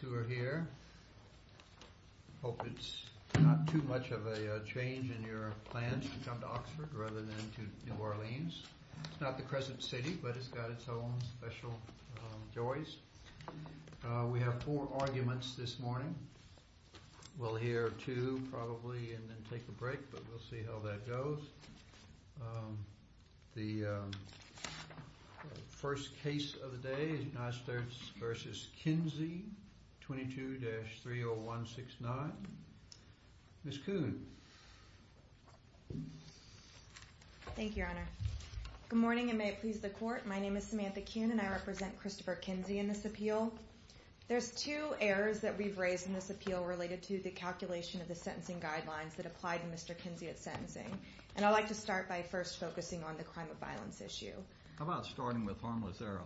who are here. I hope it's not too much of a change in your plans to come to Oxford rather than to New Orleans. It's not the present city, but it's got its own special joys. We have four arguments this morning. We'll hear two probably and then take a break, but we'll see how that goes. The first case of the day is United States v. Kinzy. The first case of the day is United States v. Kinzy, 22-30169. Ms. Kuhn. Thank you, Your Honor. Good morning and may it please the Court. My name is Samantha Kuhn and I represent Christopher Kinzy in this appeal. There's two errors that we've raised in this appeal related to the calculation of the sentencing guidelines that applied to Mr. Kinzy at sentencing, and I'd like to start by first focusing on the crime of violence issue. How about starting with harmless error?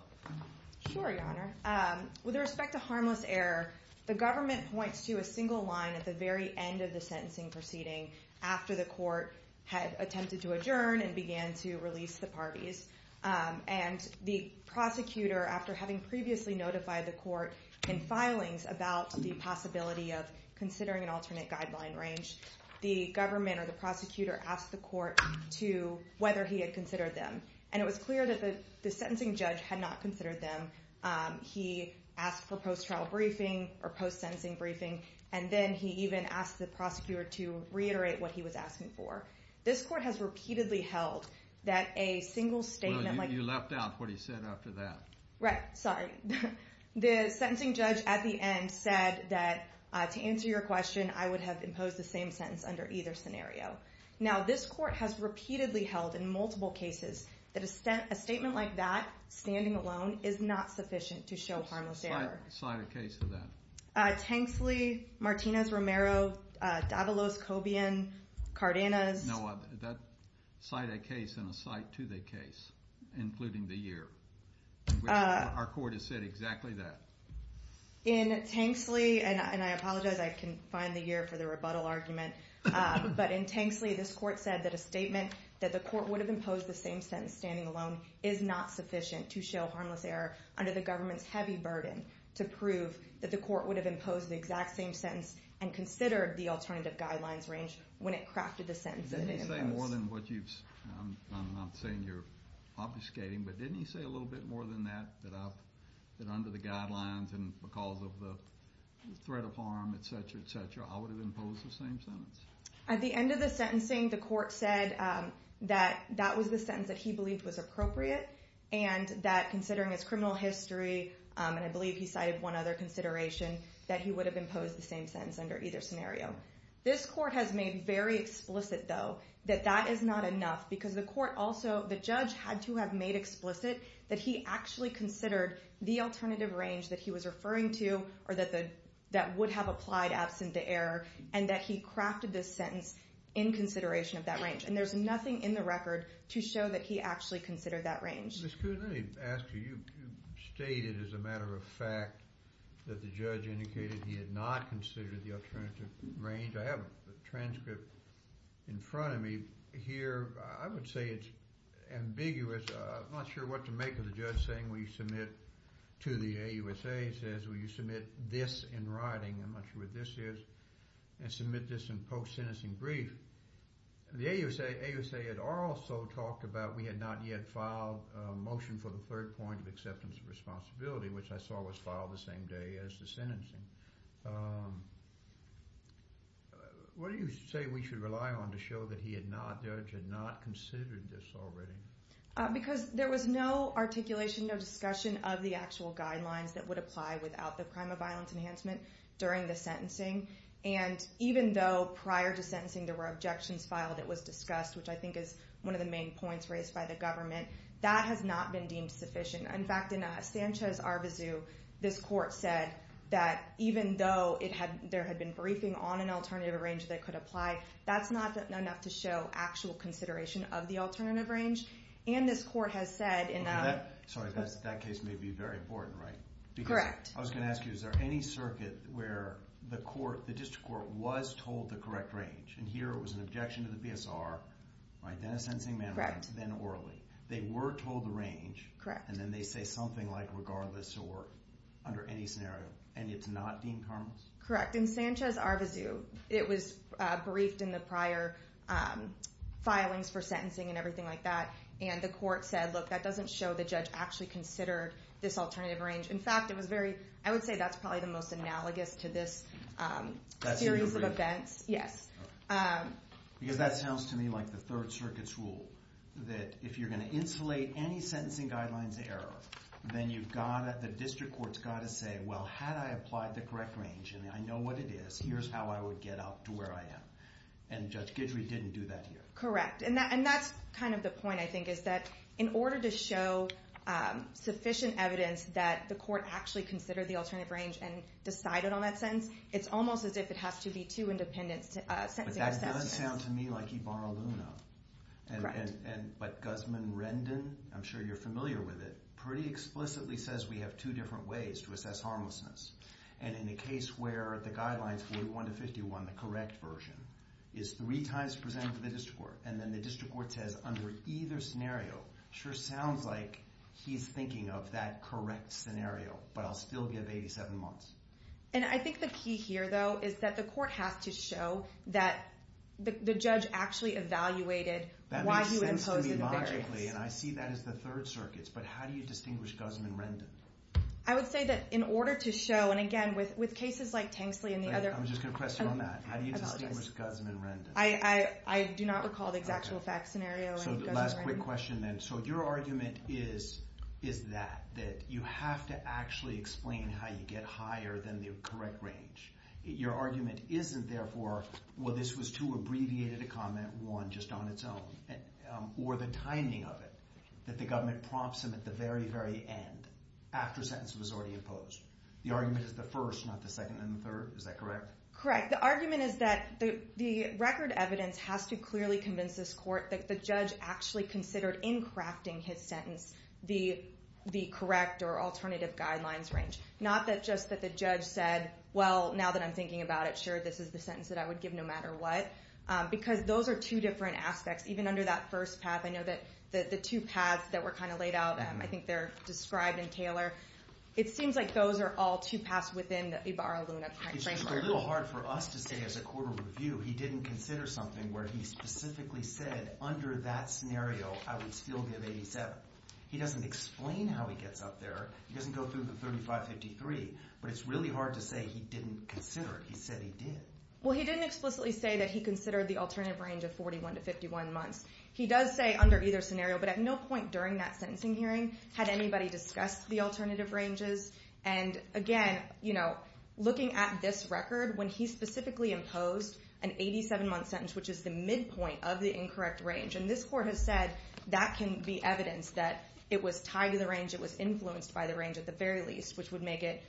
Sure, Your Honor. With respect to harmless error, the government points to a single line at the very end of the sentencing proceeding after the court had attempted to adjourn and began to release the parties, and the prosecutor, after having previously notified the court in filings about the possibility of considering an alternate guideline range, the government or the prosecutor asked the court whether he had considered them, and it was clear that the sentencing judge had not considered them. He asked for post-trial briefing or post-sentencing briefing, and then he even asked the prosecutor to reiterate what he was asking for. This court has repeatedly held that a single statement like... Well, you left out what he said after that. Right. Sorry. The sentencing judge at the end said that, to answer your question, I would have imposed the same sentence under either scenario. Now, this court has repeatedly held in multiple cases that a statement like that, standing alone, is not sufficient to show harmless error. Cite a case for that. Tanksley, Martinez-Romero, Davalos, Cobian, Cardenas. No, cite a case and a cite to the case, including the year. Our court has said exactly that. In Tanksley, and I apologize, I confine the year for the rebuttal argument, but in Tanksley, this court said that a statement that the court would have imposed the same sentence standing alone is not sufficient to show harmless error under the government's heavy burden to prove that the court would have imposed the exact same sentence and considered the alternative guidelines range when it crafted the sentence that it imposed. Didn't he say more than what you've... I'm saying you're obfuscating, but didn't he say a little bit more than that, that under the At the end of the sentencing, the court said that that was the sentence that he believed was appropriate, and that considering his criminal history, and I believe he cited one other consideration, that he would have imposed the same sentence under either scenario. This court has made very explicit, though, that that is not enough, because the court also, the judge had to have made explicit that he actually considered the alternative range that he was referring to, or that would have applied absent the error, and that he crafted this sentence in consideration of that range, and there's nothing in the record to show that he actually considered that range. Ms. Kuhn, let me ask you, you stated as a matter of fact that the judge indicated he had not considered the alternative range. I have a transcript in front of me here. I would say it's ambiguous. I'm not sure what to make of the judge saying, will you submit to the AUSA, he says, will you submit this in writing, I'm not sure what this is, and submit this in post-sentencing brief. The AUSA had also talked about we had not yet filed a motion for the third point of acceptance of responsibility, which I saw was filed the same day as the sentencing. What do you say we should rely on to show that he had not, the judge had not considered this already? Because there was no articulation, no discussion of the actual guidelines that would apply without the crime of violence enhancement during the sentencing, and even though prior to sentencing there were objections filed, it was discussed, which I think is one of the main points raised by the government, that has not been deemed sufficient. In fact, in Sanchez-Arvizu, this court said that even though there had been briefing on an alternative range that could apply, that's not enough to show actual consideration of the alternative range, and this court has said... Sorry, that case may be very important, right? Correct. I was going to ask you, is there any circuit where the court, the district court, was told the correct range, and here it was an objection to the PSR, right, then a sentencing manner, then orally. They were told the range, and then they say something like regardless or under any scenario, and it's not deemed harmless? Correct. In Sanchez-Arvizu, it was briefed in the prior filings for sentencing and everything like that, and the court said, look, that doesn't show the judge actually considered this alternative range. In fact, it was very... I would say that's probably the most analogous to this series of events. That's in your brief? Yes. Because that sounds to me like the Third Circuit's rule, that if you're going to insulate any sentencing guidelines error, then you've got to... The district court's got to say, well, had I applied the correct range, and I know what it is, here's how I would get up to where I am, and that's kind of the point, I think, is that in order to show sufficient evidence that the court actually considered the alternative range and decided on that sentence, it's almost as if it has to be two independent sentencing sentences. But that does sound to me like Ibarra-Luna. Correct. But Guzman-Rendon, I'm sure you're familiar with it, pretty explicitly says we have two different ways to assess harmlessness, and in a case where the guidelines 41 to 51, the correct version, is three times presented to the district court, and then the district court says, under either scenario, sure sounds like he's thinking of that correct scenario, but I'll still give 87 months. And I think the key here, though, is that the court has to show that the judge actually evaluated why you imposed the variance. That makes sense to me logically, and I see that as the Third Circuit's, but how do you distinguish Guzman-Rendon? I would say that in order to show, and again, with cases like Tanksley and the other... I'm just going to press you on that. How do you distinguish Guzman-Rendon? I do not recall the exact real fact scenario in Guzman-Rendon. So the last quick question then. So your argument is that you have to actually explain how you get higher than the correct range. Your argument isn't, therefore, well, this was too abbreviated a comment, one just on its own, or the timing of it, that the government prompts him at the very, very end, after a sentence was already imposed. The argument is the first, not the second. The third evidence has to clearly convince this court that the judge actually considered, in crafting his sentence, the correct or alternative guidelines range. Not that just that the judge said, well, now that I'm thinking about it, sure, this is the sentence that I would give no matter what. Because those are two different aspects. Even under that first path, I know that the two paths that were kind of laid out, I think they're described in Taylor. It seems like those are all two paths within the Ibarra-Luna framework. It's a little hard for us to say, as a court of review, he didn't consider something where he specifically said, under that scenario, I would still give 87. He doesn't explain how he gets up there. He doesn't go through the 35-53. But it's really hard to say he didn't consider it. He said he did. Well, he didn't explicitly say that he considered the alternative range of 41 to 51 months. He does say under either scenario. But at no point during that sentencing hearing had anybody discussed the alternative ranges. And again, looking at this record, when he specifically imposed an 87-month sentence, which is the midpoint of the incorrect range, and this court has said that can be evidence that it was tied to the range, it was influenced by the range at the very least, which would make it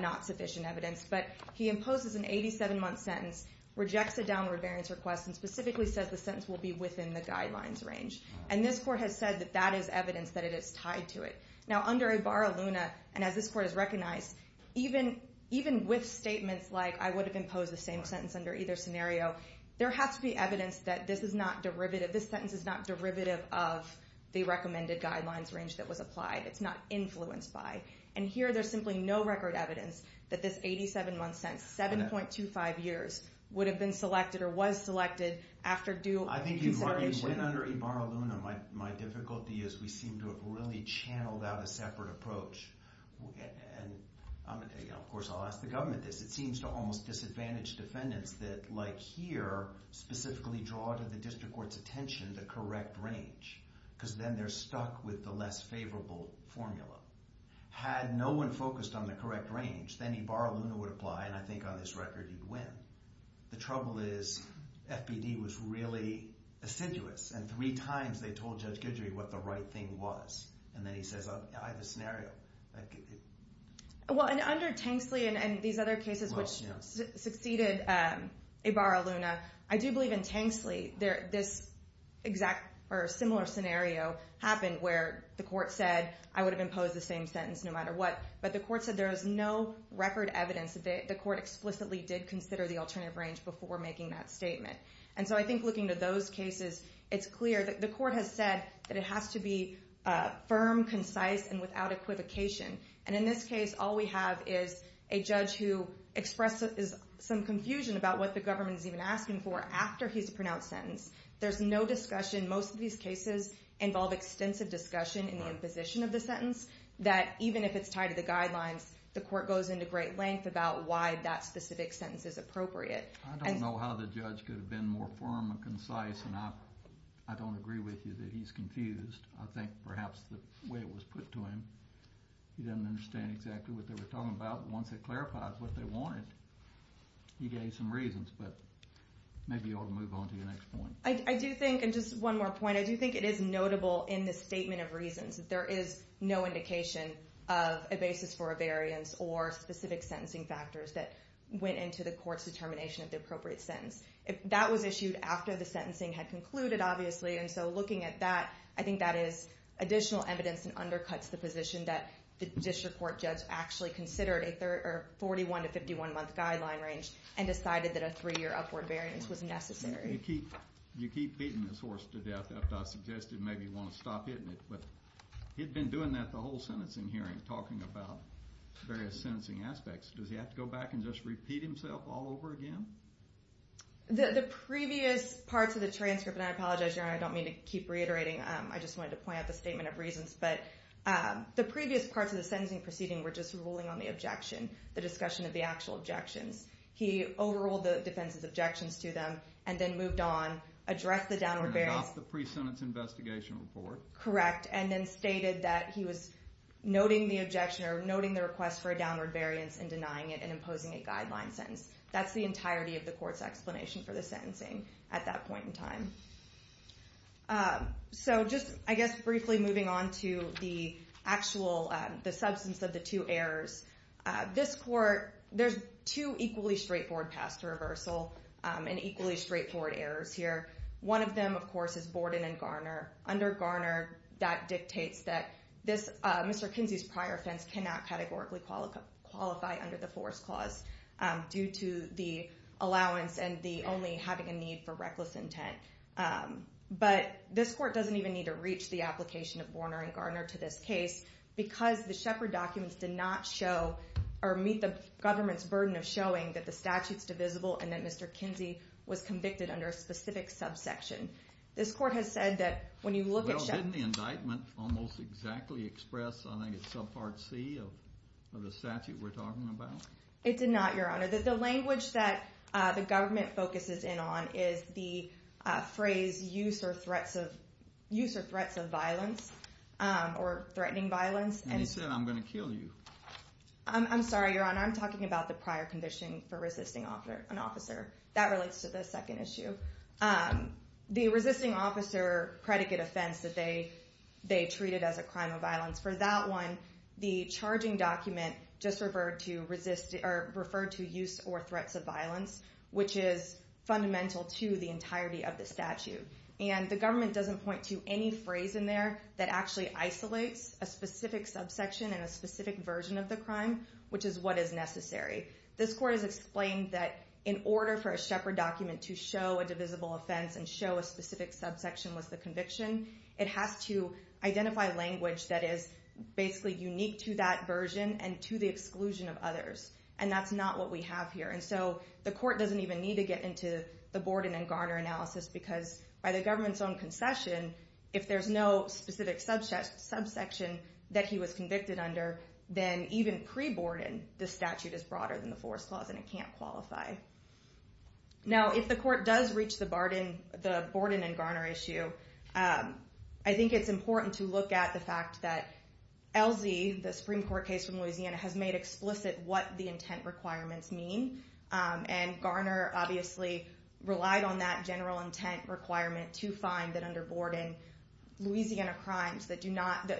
not sufficient evidence. But he imposes an 87-month sentence, rejects a downward variance request, and specifically says the sentence will be within the guidelines range. And this court has said that that is tied to it. Now, under Ibarra-Luna, and as this court has recognized, even with statements like I would have imposed the same sentence under either scenario, there has to be evidence that this sentence is not derivative of the recommended guidelines range that was applied. It's not influenced by. And here, there's simply no record evidence that this 87-month sentence, 7.25 years, would have been selected or was selected after due consideration. I mean, when under Ibarra-Luna, my difficulty is we seem to have really channeled out a separate approach. And of course, I'll ask the government this. It seems to almost disadvantage defendants that, like here, specifically draw to the district court's attention the correct range, because then they're stuck with the less favorable formula. Had no one focused on the correct range, then Ibarra-Luna would apply, and I think on this record, you'd win. The trouble is, FBD was really assiduous, and three times they told Judge Guidry what the right thing was. And then he says, I have a scenario. Well, and under Tanksley and these other cases which succeeded Ibarra-Luna, I do believe in Tanksley, this exact or similar scenario happened where the court said, I would have imposed the same sentence no matter what. But the court said there is no record evidence that the court explicitly did consider the alternative range before making that statement. And so I think looking at those cases, it's clear that the court has said that it has to be firm, concise, and without equivocation. And in this case, all we have is a judge who expressed some confusion about what the government is even asking for after he's pronounced sentence. There's no discussion. Most of these cases involve extensive discussion in the imposition of the sentence, that even if it's tied to the guidelines, the court goes into great length about why that specific sentence is appropriate. I don't know how the judge could have been more firm and concise, and I don't agree with you that he's confused. I think perhaps the way it was put to him, he didn't understand exactly what they were talking about. But once it clarifies what they wanted, he gave some reasons. But maybe you ought to move on to your next point. I do think, and just one more point, I do think it is notable in the statement of reasons that there is no indication of a basis for a variance or specific sentencing factors that went into the court's determination of the appropriate sentence. That was issued after the sentencing had concluded, obviously, and so looking at that, I think that is additional evidence and undercuts the position that the district court judge actually considered a 41- to 51-month guideline range and decided that a three-year upward variance was necessary. You keep beating this horse to death after I suggested maybe you want to stop hitting it, but he had been doing that the whole sentencing hearing, talking about various sentencing aspects. Does he have to go back and just repeat himself all over again? The previous parts of the transcript, and I apologize, Your Honor, I don't mean to keep reiterating, I just wanted to point out the statement of reasons, but the previous parts of the sentencing proceeding were just ruling on the objection, the discussion of the actual objections. He overruled the defense's objections to them and then moved on, addressed the downward variance. And adopted the pre-sentence investigation report. Correct, and then stated that he was noting the objection or noting the request for a downward variance and denying it and imposing a guideline sentence. That's the entirety of the court's explanation for the sentencing at that point in time. So just, I guess, briefly moving on to the actual, the substance of the two errors. This court, there's two equally straightforward paths to reversal and equally straightforward errors here. One of them, of course, is Borden and Garner. Under Garner, that dictates that this, Mr. Kinsey's prior offense cannot categorically qualify under the Force Clause due to the allowance and the only having a need for reckless intent. But this court doesn't even need to reach the application of Borner and Garner to this case because the Shepard documents did not show or meet the government's burden of showing that the statute's divisible and that Mr. Kinsey was convicted under a specific subsection. This court has said that when you look at Shepard... Well, didn't the indictment almost exactly express, I think it's subpart C of the statute we're talking about? It did not, Your Honor. The language that the government focuses in on is the phrase use or threats of violence or threatening violence. And he said, I'm going to kill you. I'm sorry, Your Honor. I'm talking about the prior condition for resisting an officer. That relates to the second issue. The resisting officer predicate offense that they treated as a crime of violence, for that one, the charging document just referred to use or threats of violence, which is fundamental to the entirety of the statute. And the government doesn't point to any phrase in there that actually isolates a specific subsection and a specific version of the crime, which is what is necessary. This court has explained that in order for a Shepard document to show a divisible offense and show a specific subsection was the conviction, it has to identify language that is basically unique to that version and to the exclusion of others. And that's not what we have here. And so the court doesn't even need to get into the Borden and Garner analysis because by the government's own concession, if there's no specific subsection that he was convicted under, then even pre-Borden, the statute is broader than the Forest Clause and it can't qualify. Now, if the court does reach the Borden and Garner issue, I think it's important to look at the fact that LZ, the Supreme Court case from Louisiana, has made explicit what the general intent requirement to find that under Borden Louisiana crimes that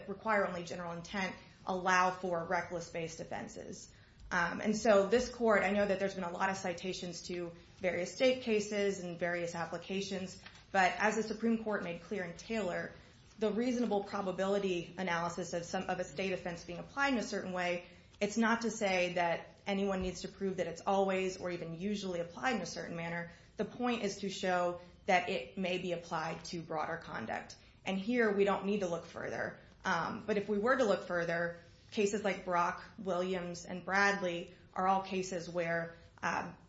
require only general intent allow for reckless-based offenses. And so this court, I know that there's been a lot of citations to various state cases and various applications, but as the Supreme Court made clear in Taylor, the reasonable probability analysis of a state offense being applied in a certain way, it's not to say that anyone needs to prove that it's always or even usually applied in a certain manner. The point is to show that it may be applied to broader conduct. And here, we don't need to look further. But if we were to look further, cases like Brock, Williams, and Bradley are all cases where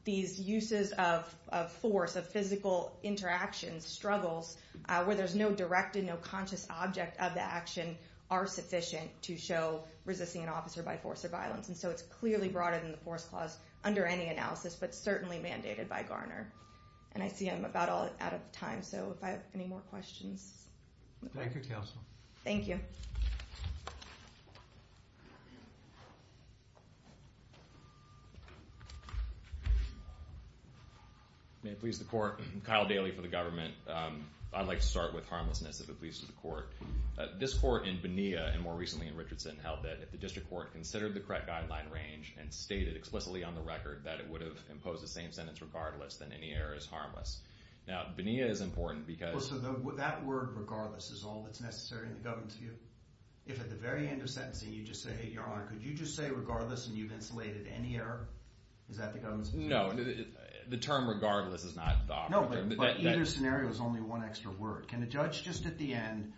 these uses of force, of physical interactions, struggles, where there's no direct and no conscious object of the action are sufficient to show resisting an officer by force or violence. And so it's clearly broader than the Forest Clause under any analysis, but certainly mandated by Garner. And I see I'm about out of time, so if I have any more questions. Thank you, Counsel. Thank you. May it please the Court. Kyle Daly for the government. I'd like to start with harmlessness, if it pleases the Court. This Court in Bonilla, and more recently in Richardson, held that the District Court considered the correct guideline range and stated explicitly on the record that it would have imposed the same sentence regardless, then any error is harmless. Now, Bonilla is important because... Well, so that word, regardless, is all that's necessary in the government's view? If at the very end of sentencing, you just say, Your Honor, could you just say regardless and you've insulated any error? Is that the government's view? No, the term regardless is not... No, but either scenario is only one extra word. Can a judge just at the end,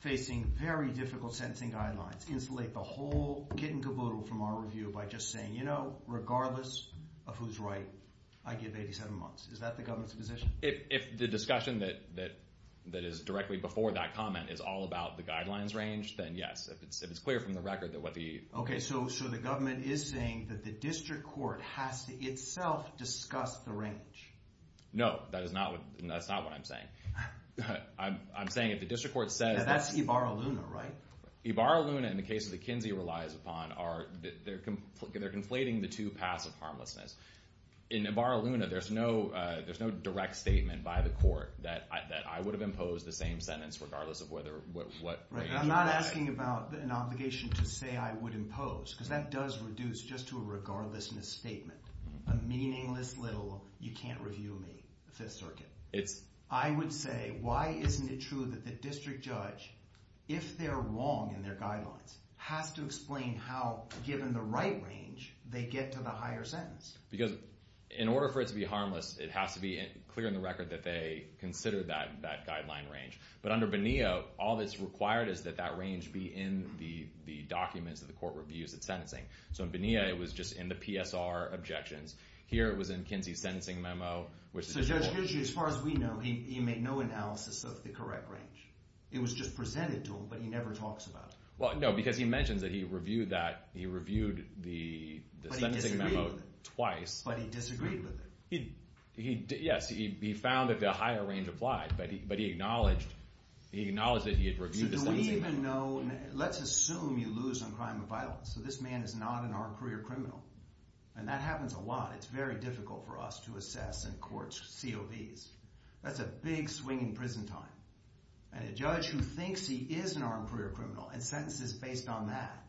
facing very difficult sentencing guidelines, insulate the whole kit and caboodle from our review by just saying, You know, regardless of who's right, I give 87 months. Is that the government's position? If the discussion that is directly before that comment is all about the guidelines range, then yes. If it's clear from the record that what the... Okay, so the government is saying that the District Court has to itself discuss the range. No, that's not what I'm saying. I'm saying if the District Court says... That's Ibarra-Luna, right? Ibarra-Luna, in the case that Kinsey relies upon, they're conflating the two paths of harmlessness. In Ibarra-Luna, there's no direct statement by the court that I would have imposed the same sentence regardless of whether... I'm not asking about an obligation to say I would impose because that does reduce just to a regardlessness statement, a meaningless little, You can't review me, Fifth Circuit. I would say, why isn't it true that the district judge, if they're wrong in their guidelines, has to explain how, given the right range, they get to the higher sentence? Because in order for it to be harmless, it has to be clear in the record that they consider that guideline range. But under Bonilla, all that's required is that that range be in the documents that the court reviews its sentencing. So in Bonilla, it was just in the PSR objections. Here it was in Kinsey's sentencing memo, which... As far as we know, he made no analysis of the correct range. It was just presented to him, but he never talks about it. Well, no, because he mentions that he reviewed the sentencing memo twice. But he disagreed with it. Yes, he found that the higher range applied, but he acknowledged that he had reviewed the sentencing memo. Let's assume you lose on crime of violence. So this man is not an armed career criminal. And that happens a lot. It's very difficult for us to assess in court COVs. That's a big swing in prison time. And a judge who thinks he is an armed career criminal and sentences based on that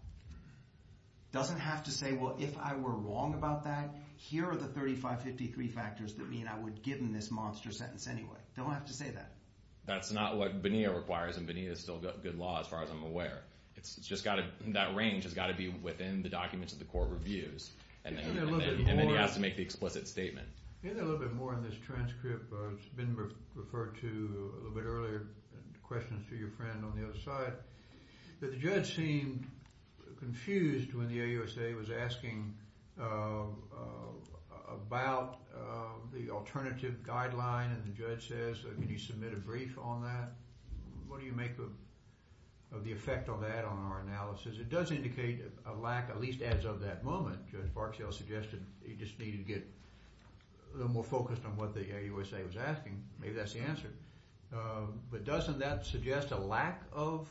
doesn't have to say, well, if I were wrong about that, here are the 3553 factors that mean I would give him this monster sentence anyway. Don't have to say that. That's not what Bonilla requires, and Bonilla is still good law, as far as I'm aware. That range has got to be within the documents that the court reviews, and then he has to make the explicit statement. Can I get a little bit more on this transcript? It's been referred to a little bit earlier in the questions to your friend on the other side. The judge seemed confused when the AUSA was asking about the alternative guideline, and the judge says, can you submit a brief on that? What do you make of the effect of that on our analysis? It does indicate a lack, at least as of that moment. Judge Barksdale suggested he just needed to get a little more focused on what the AUSA was asking. Maybe that's the answer. But doesn't that suggest a lack of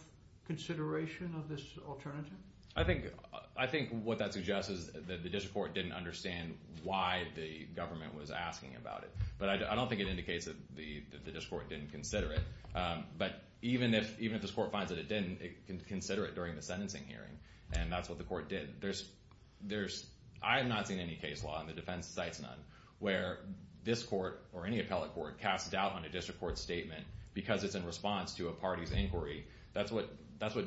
consideration of this alternative? I think what that suggests is that the district court didn't understand why the government was asking about it. But I don't think it indicates that the district court didn't consider it. But even if this court finds that it didn't, it can consider it during the sentencing hearing, and that's what the court did. I have not seen any case law, and the defense cites none, where this court or any appellate court casts doubt on a district court statement because it's in response to a party's inquiry. That's what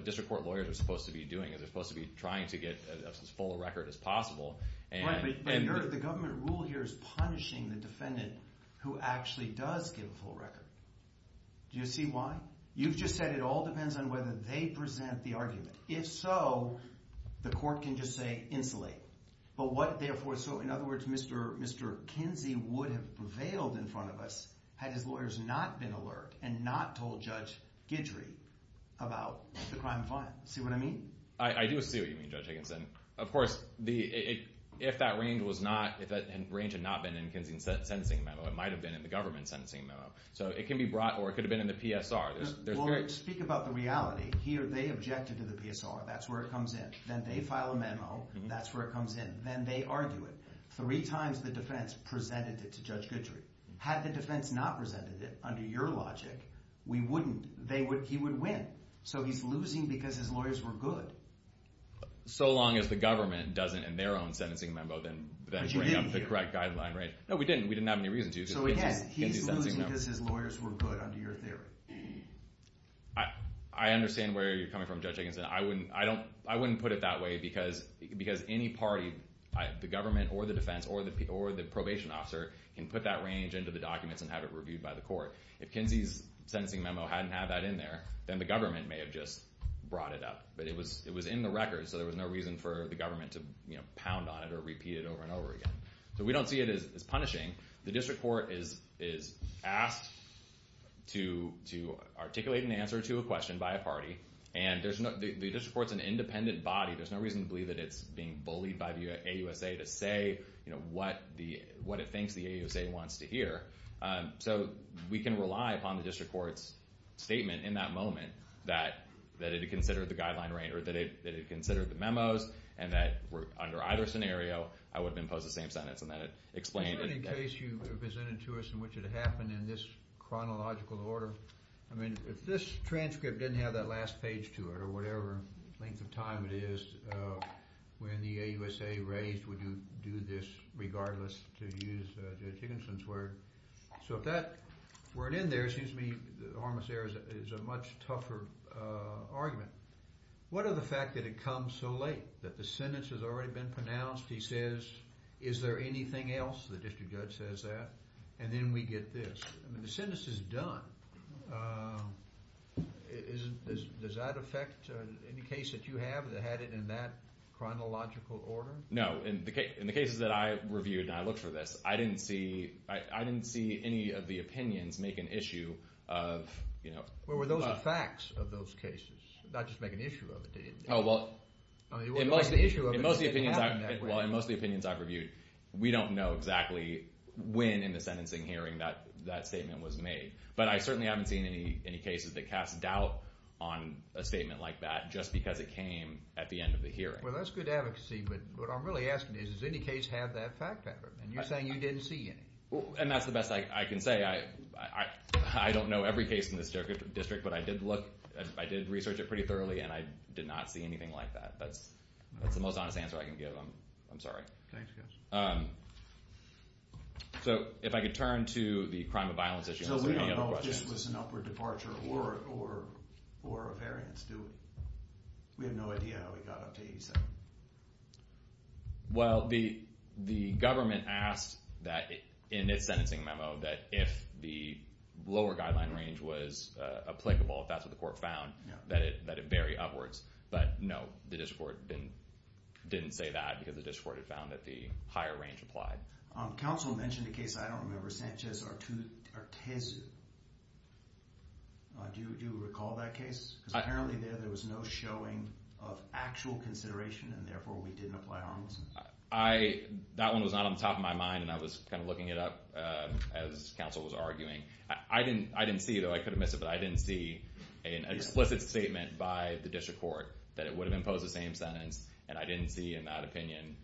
district court lawyers are supposed to be doing. They're supposed to be trying to get as full a record as possible. Right, but the government rule here is punishing the defendant who actually does give a full record. Do you see why? You've just said it all depends on whether they present the argument. If so, the court can just say insulate. So in other words, Mr. Kinsey would have prevailed in front of us had his lawyers not been alert and not told Judge Guidry about the crime of violence. See what I mean? I do see what you mean, Judge Higginson. Of course, if that range had not been in Kinsey's sentencing memo, it might have been in the government's sentencing memo. So it can be brought, or it could have been in the PSR. Well, speak about the reality. They objected to the PSR. That's where it comes in. Then they file a memo. That's where it comes in. Then they argue it. Three times the defense presented it to Judge Guidry. Had the defense not presented it under your logic, we wouldn't. He would win. So he's losing because his lawyers were good. So long as the government doesn't, in their own sentencing memo, then bring up the correct guideline range. No, we didn't. We didn't have any reason to. He's losing because his lawyers were good under your theory. I understand where you're coming from, Judge Higginson. I wouldn't put it that way because any party, the government or the defense or the probation officer can put that range into the documents and have it reviewed by the court. If Kinsey's sentencing memo hadn't had that in there, then the government may have just brought it up. But it was in the record, so there was no reason for the government to pound on it or repeat it over and over again. So we don't see it as punishing. The district court is asked to articulate an answer to a question by a party. And the district court's an independent body. There's no reason to believe that it's being bullied by the AUSA to say what it thinks the AUSA wants to hear. So we can rely upon the district court's statement in that moment that it had considered the guideline range or that it had considered the memos and that under either scenario, I would have imposed the same sentence. And that explained it. In the case you presented to us in which it happened in this chronological order, I mean, if this transcript didn't have that last page to it or whatever length of time it is, when the AUSA raised, would you do this regardless to use Judge Higginson's word? So if that weren't in there, it seems to me that Armistair is a much tougher argument. What of the fact that it comes so late, that the sentence has already been pronounced? He says, is there anything else? The district judge says that. And then we get this. I mean, the sentence is done. Does that affect any case that you have that had it in that chronological order? No. So in the cases that I reviewed and I looked for this, I didn't see any of the opinions make an issue of, you know. Well, were those the facts of those cases, not just make an issue of it? Oh, well, in most of the opinions I've reviewed, we don't know exactly when in the sentencing hearing that statement was made. But I certainly haven't seen any cases that cast doubt on a statement like that just because it came at the end of the hearing. Well, that's good advocacy. But what I'm really asking is, does any case have that fact pattern? And you're saying you didn't see any. And that's the best I can say. I don't know every case in this district, but I did look. I did research it pretty thoroughly, and I did not see anything like that. That's the most honest answer I can give. I'm sorry. Thanks, guys. So if I could turn to the crime of violence issue. So we don't know if this was an upward departure or a variance, do we? We have no idea how it got up to 87. Well, the government asked in its sentencing memo that if the lower guideline range was applicable, if that's what the court found, that it vary upwards. But, no, the district court didn't say that because the district court had found that the higher range applied. Counsel mentioned a case I don't remember, Sanchez-Artezu. Do you recall that case? Because apparently there was no showing of actual consideration, and therefore we didn't apply harmlessness. That one was not on the top of my mind, and I was kind of looking it up as counsel was arguing. I didn't see, though. I could have missed it, but I didn't see an explicit statement by the district court that it would have imposed the same sentence, and I didn't see in that opinion,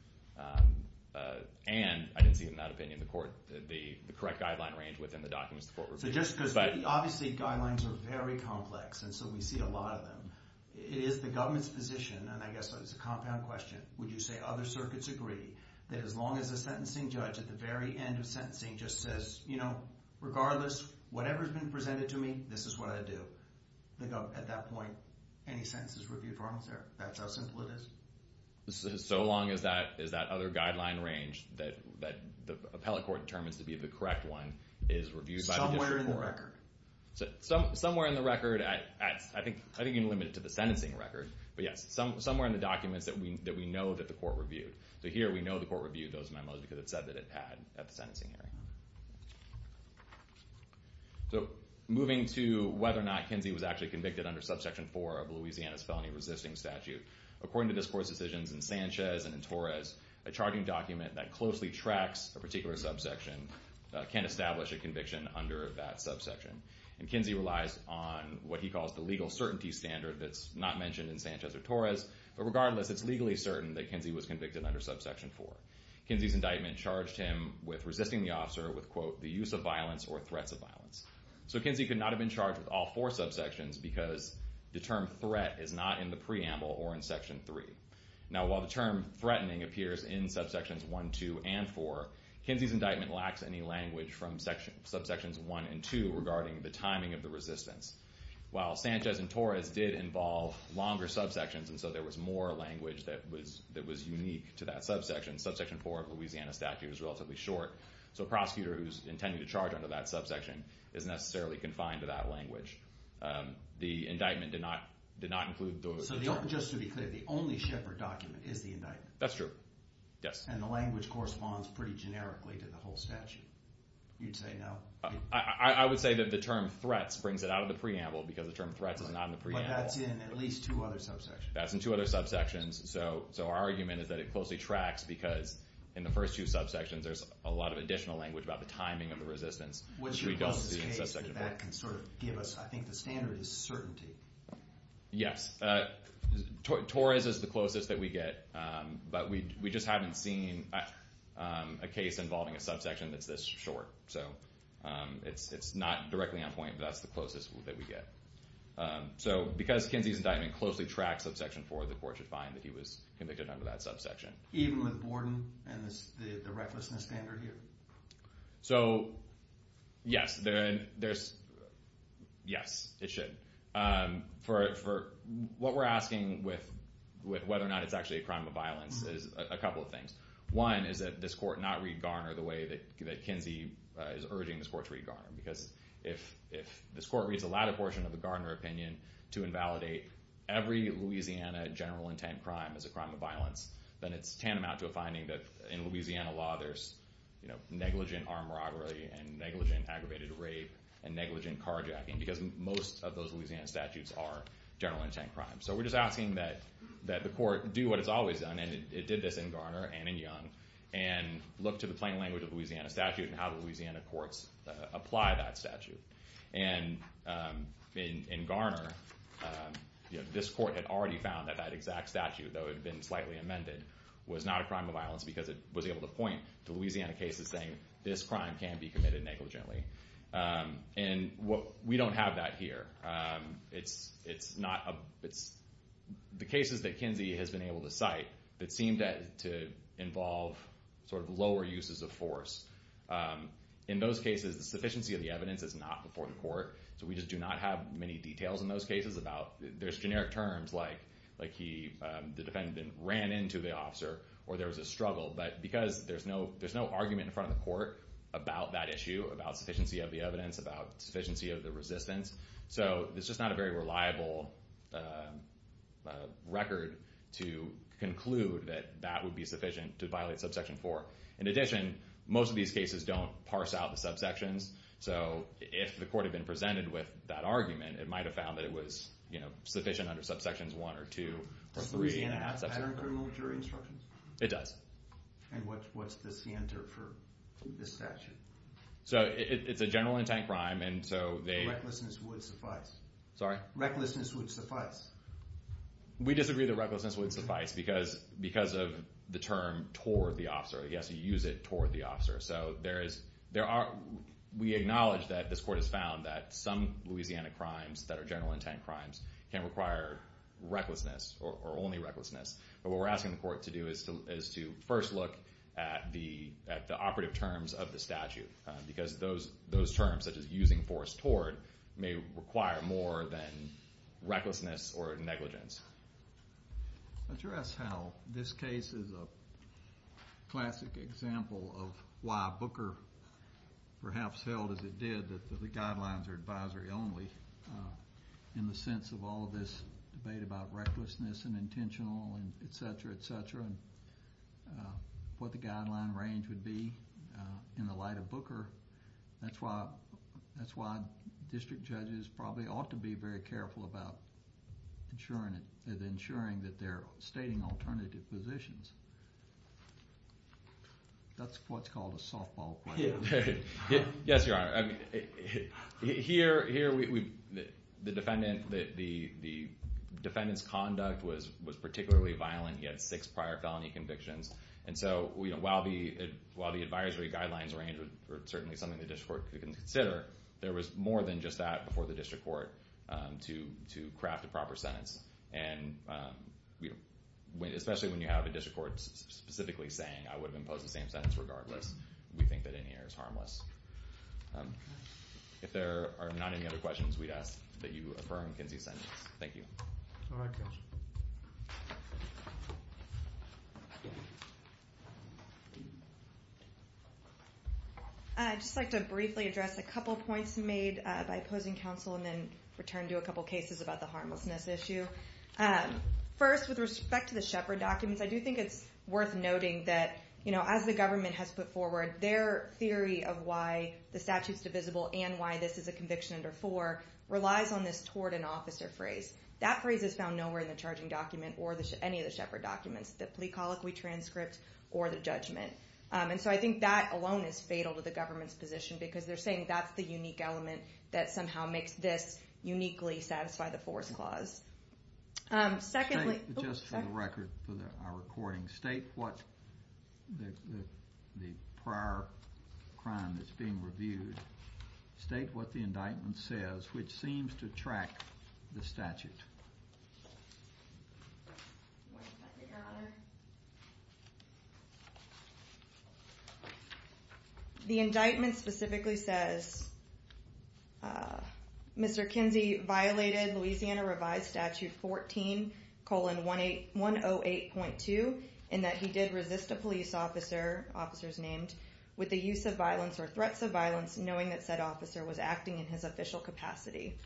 and I didn't see in that opinion the correct guideline range within the documents the court referred to. Obviously, guidelines are very complex, and so we see a lot of them. It is the government's position, and I guess it's a compound question, would you say other circuits agree that as long as a sentencing judge at the very end of sentencing just says, you know, regardless, whatever's been presented to me, this is what I do, at that point any sentence is reviewed for harmless error? That's how simple it is? So long as that other guideline range that the appellate court determines to be the correct one is reviewed by the district court. Somewhere in the record. Somewhere in the record, I think you can limit it to the sentencing record, but yes, somewhere in the documents that we know that the court reviewed. So here we know the court reviewed those memos because it said that it had at the sentencing hearing. So moving to whether or not Kinsey was actually convicted under Subsection 4 of Louisiana's Felony Resisting Statute. According to this court's decisions in Sanchez and in Torres, a charging document that closely tracks a particular subsection can establish a conviction under that subsection. And Kinsey relies on what he calls the legal certainty standard that's not mentioned in Sanchez or Torres, but regardless, it's legally certain that Kinsey was convicted under Subsection 4. Kinsey's indictment charged him with resisting the officer with, quote, the use of violence or threats of violence. So Kinsey could not have been charged with all four subsections because the term threat is not in the preamble or in Section 3. Now, while the term threatening appears in Subsections 1, 2, and 4, Kinsey's indictment lacks any language from Subsections 1 and 2 regarding the timing of the resistance. While Sanchez and Torres did involve longer subsections, and so there was more language that was unique to that subsection, Subsection 4 of Louisiana's statute is relatively short, so a prosecutor who's intending to charge under that subsection isn't necessarily confined to that language. The indictment did not include those terms. So just to be clear, the only Shepard document is the indictment? That's true, yes. And the language corresponds pretty generically to the whole statute. You'd say no? I would say that the term threats brings it out of the preamble because the term threats is not in the preamble. But that's in at least two other subsections. That's in two other subsections. So our argument is that it closely tracks because in the first two subsections there's a lot of additional language about the timing of the resistance. What's your closest case that that can sort of give us, I think the standard is certainty. Yes. Torres is the closest that we get, but we just haven't seen a case involving a subsection that's this short. So it's not directly on point, but that's the closest that we get. So because Kinsey's indictment closely tracks subsection 4, the court should find that he was convicted under that subsection. Even with Borden and the recklessness standard here? So, yes. Yes, it should. What we're asking with whether or not it's actually a crime of violence is a couple of things. One is that this court not read Garner the way that Kinsey is urging this court to read Garner. Because if this court reads the latter portion of the Garner opinion to invalidate every Louisiana general intent crime as a crime of violence, then it's tantamount to a finding that in Louisiana law there's negligent armed robbery and negligent aggravated rape and negligent carjacking. Because most of those Louisiana statutes are general intent crimes. So we're just asking that the court do what it's always done, and it did this in Garner and in Young, and look to the plain language of the Louisiana statute and how the Louisiana courts apply that statute. And in Garner, this court had already found that that exact statute, though it had been slightly amended, was not a crime of violence because it was able to point to Louisiana cases saying this crime can be committed negligently. And we don't have that here. The cases that Kinsey has been able to cite that seem to involve lower uses of force, in those cases the sufficiency of the evidence is not before the court. So we just do not have many details in those cases about... There's generic terms like the defendant ran into the officer or there was a struggle. But because there's no argument in front of the court about that issue, about sufficiency of the evidence, about sufficiency of the resistance, so it's just not a very reliable record to conclude that that would be sufficient to violate subsection 4. In addition, most of these cases don't parse out the subsections, so if the court had been presented with that argument, it might have found that it was sufficient under subsections 1 or 2 or 3. Does Louisiana have pattern criminal jury instructions? It does. And what's the standard for this statute? So it's a general intent crime, and so they... Recklessness would suffice. Sorry? Recklessness would suffice. We disagree that recklessness would suffice because of the term toward the officer. He has to use it toward the officer. So there is... We acknowledge that this court has found that some Louisiana crimes that are general intent crimes can require recklessness or only recklessness. But what we're asking the court to do is to first look at the operative terms of the statute because those terms, such as using force toward, may require more than recklessness or negligence. I'm sure that's how this case is a classic example of why Booker perhaps held as it did that the guidelines are advisory only in the sense of all of this debate about recklessness and intentional and et cetera, et cetera, and what the guideline range would be in the light of Booker. That's why district judges probably ought to be very careful about ensuring that they're stating alternative positions. That's what's called a softball play. Yes, Your Honor. Here, the defendant's conduct was particularly violent. He had six prior felony convictions. And so while the advisory guidelines range are certainly something the district court could consider, there was more than just that before the district court to craft a proper sentence. And especially when you have a district court specifically saying, I would have imposed the same sentence regardless, we think that in here is harmless. If there are not any other questions, we'd ask that you affirm Kinsey's sentence. Thank you. All right, counsel. I'd just like to briefly address a couple points made by opposing counsel and then return to a couple cases about the harmlessness issue. First, with respect to the Shepard documents, I do think it's worth noting that as the government has put forward their theory of why the statute's divisible and why this is a conviction under four relies on this toward an officer phrase. That phrase is found nowhere in the charging document or any of the Shepard documents, the plea colloquy transcript or the judgment. And so I think that alone is fatal to the government's position because they're saying that's the unique element that somehow makes this uniquely satisfy the force clause. Secondly... Just for the record, for our recording, state what the prior crime that's being reviewed, state what the indictment says, which seems to track the statute. The indictment specifically says, Mr. Kinsey violated Louisiana Revised Statute 14-108.2 in that he did resist a police officer, officers named, with the use of violence or threats of violence knowing that said officer was acting in his official capacity.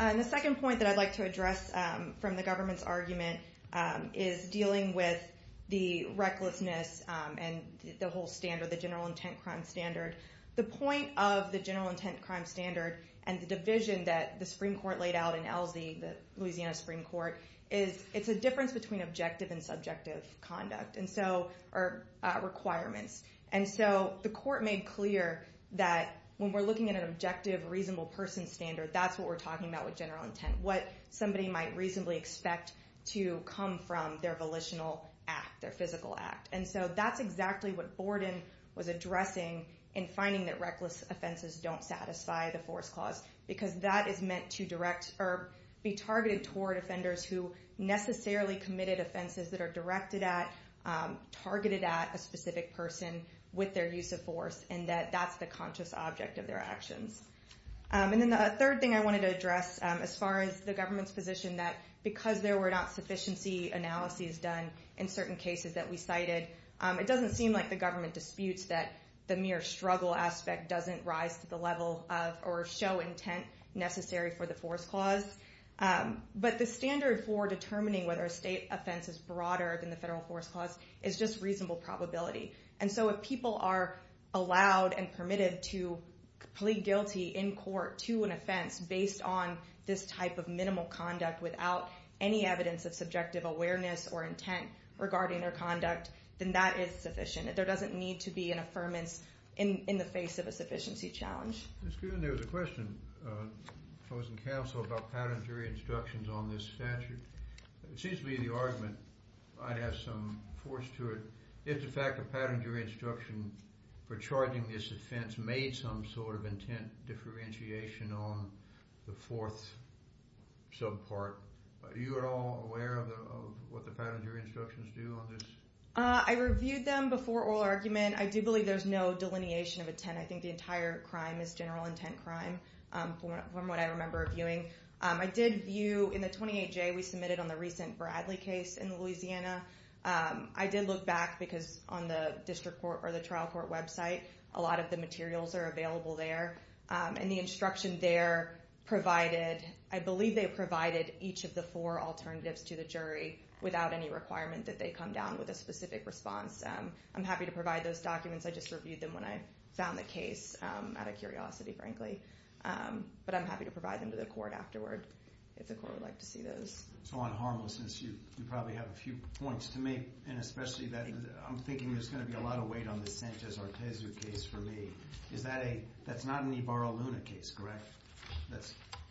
And the second point that I'd like to address from the government's argument is dealing with the recklessness and the whole standard, the general intent crime standard. The point of the general intent crime standard and the division that the Supreme Court laid out in ELSI, the Louisiana Supreme Court, is it's a difference between objective and subjective conduct or requirements. And so the court made clear that when we're looking at an objective reasonable person standard, that's what we're talking about with general intent, what somebody might reasonably expect to come from their volitional act, their physical act. And so that's exactly what Borden was addressing in finding that reckless offenses don't satisfy the force clause, because that is meant to direct or be targeted toward offenders who necessarily committed offenses that are directed at, targeted at a specific person with their use of force, and that that's the conscious object of their actions. And then the third thing I wanted to address as far as the government's position, that because there were not sufficiency analyses done in certain cases that we cited, it doesn't seem like the government disputes that the mere struggle aspect doesn't rise to the level of or show intent necessary for the force clause. But the standard for determining whether a state offense is broader than the federal force clause is just reasonable probability. And so if people are allowed and permitted to plead guilty in court to an offense based on this type of minimal conduct without any evidence of subjective awareness or intent regarding their conduct, then that is sufficient. There doesn't need to be an affirmance in the face of a sufficiency challenge. That's good. And there was a question, opposing counsel, about patent jury instructions on this statute. It seems to be the argument, I'd have some force to it, if the fact of patent jury instruction for charging this offense made some sort of intent differentiation on the fourth subpart. Are you at all aware of what the patent jury instructions do on this? I reviewed them before oral argument. I do believe there's no delineation of intent. I think the entire crime is general intent crime, from what I remember viewing. I did view, in the 28J, we submitted on the recent Bradley case in Louisiana. I did look back, because on the district court or the trial court website, a lot of the materials are available there. And the instruction there provided, I believe they provided each of the four alternatives to the jury, without any requirement that they come down with a specific response. I'm happy to provide those documents. I just reviewed them when I found the case, out of curiosity, frankly. But I'm happy to provide them to the court afterward, if the court would like to see those. So on harmlessness, you probably have a few points to make, and especially that I'm thinking there's going to be a lot of weight on the Sanchez-Artezu case for me. That's not an Ibarra-Luna case, correct?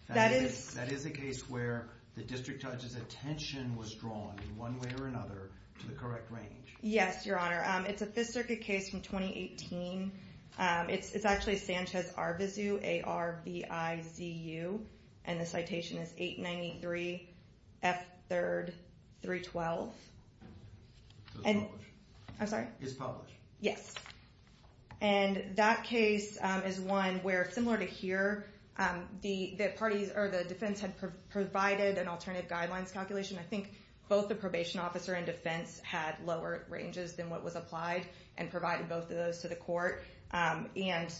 That is a case where the district judge's attention was drawn, in one way or another, to the correct range. Yes, Your Honor. It's a Fifth Circuit case from 2018. It's actually Sanchez-Artezu, A-R-B-I-Z-U. And the citation is 893 F 3rd 312. So it's published. I'm sorry? It's published. Yes. And that case is one where, similar to here, the parties or the defense had provided an alternative guidelines calculation. I think both the probation officer and defense had lower ranges than what was applied, and provided both of those to the court. And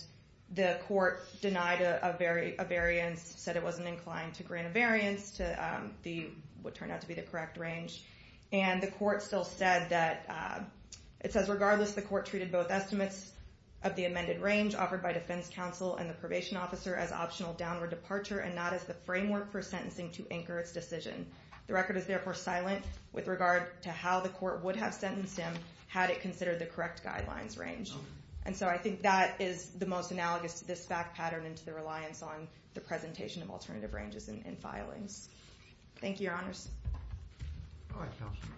the court denied a variance, said it wasn't inclined to grant a variance to what turned out to be the correct range. And the court still said that, it says, of the amended range offered by defense counsel and the probation officer as optional downward departure, and not as the framework for sentencing to anchor its decision. The record is therefore silent with regard to how the court would have sentenced him, had it considered the correct guidelines range. And so I think that is the most analogous to this fact pattern, and to the reliance on the presentation of alternative ranges in filings. Thank you, Your Honors. All right, Counsel.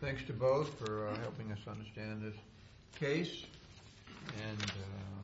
Thanks to both for helping us understand this case.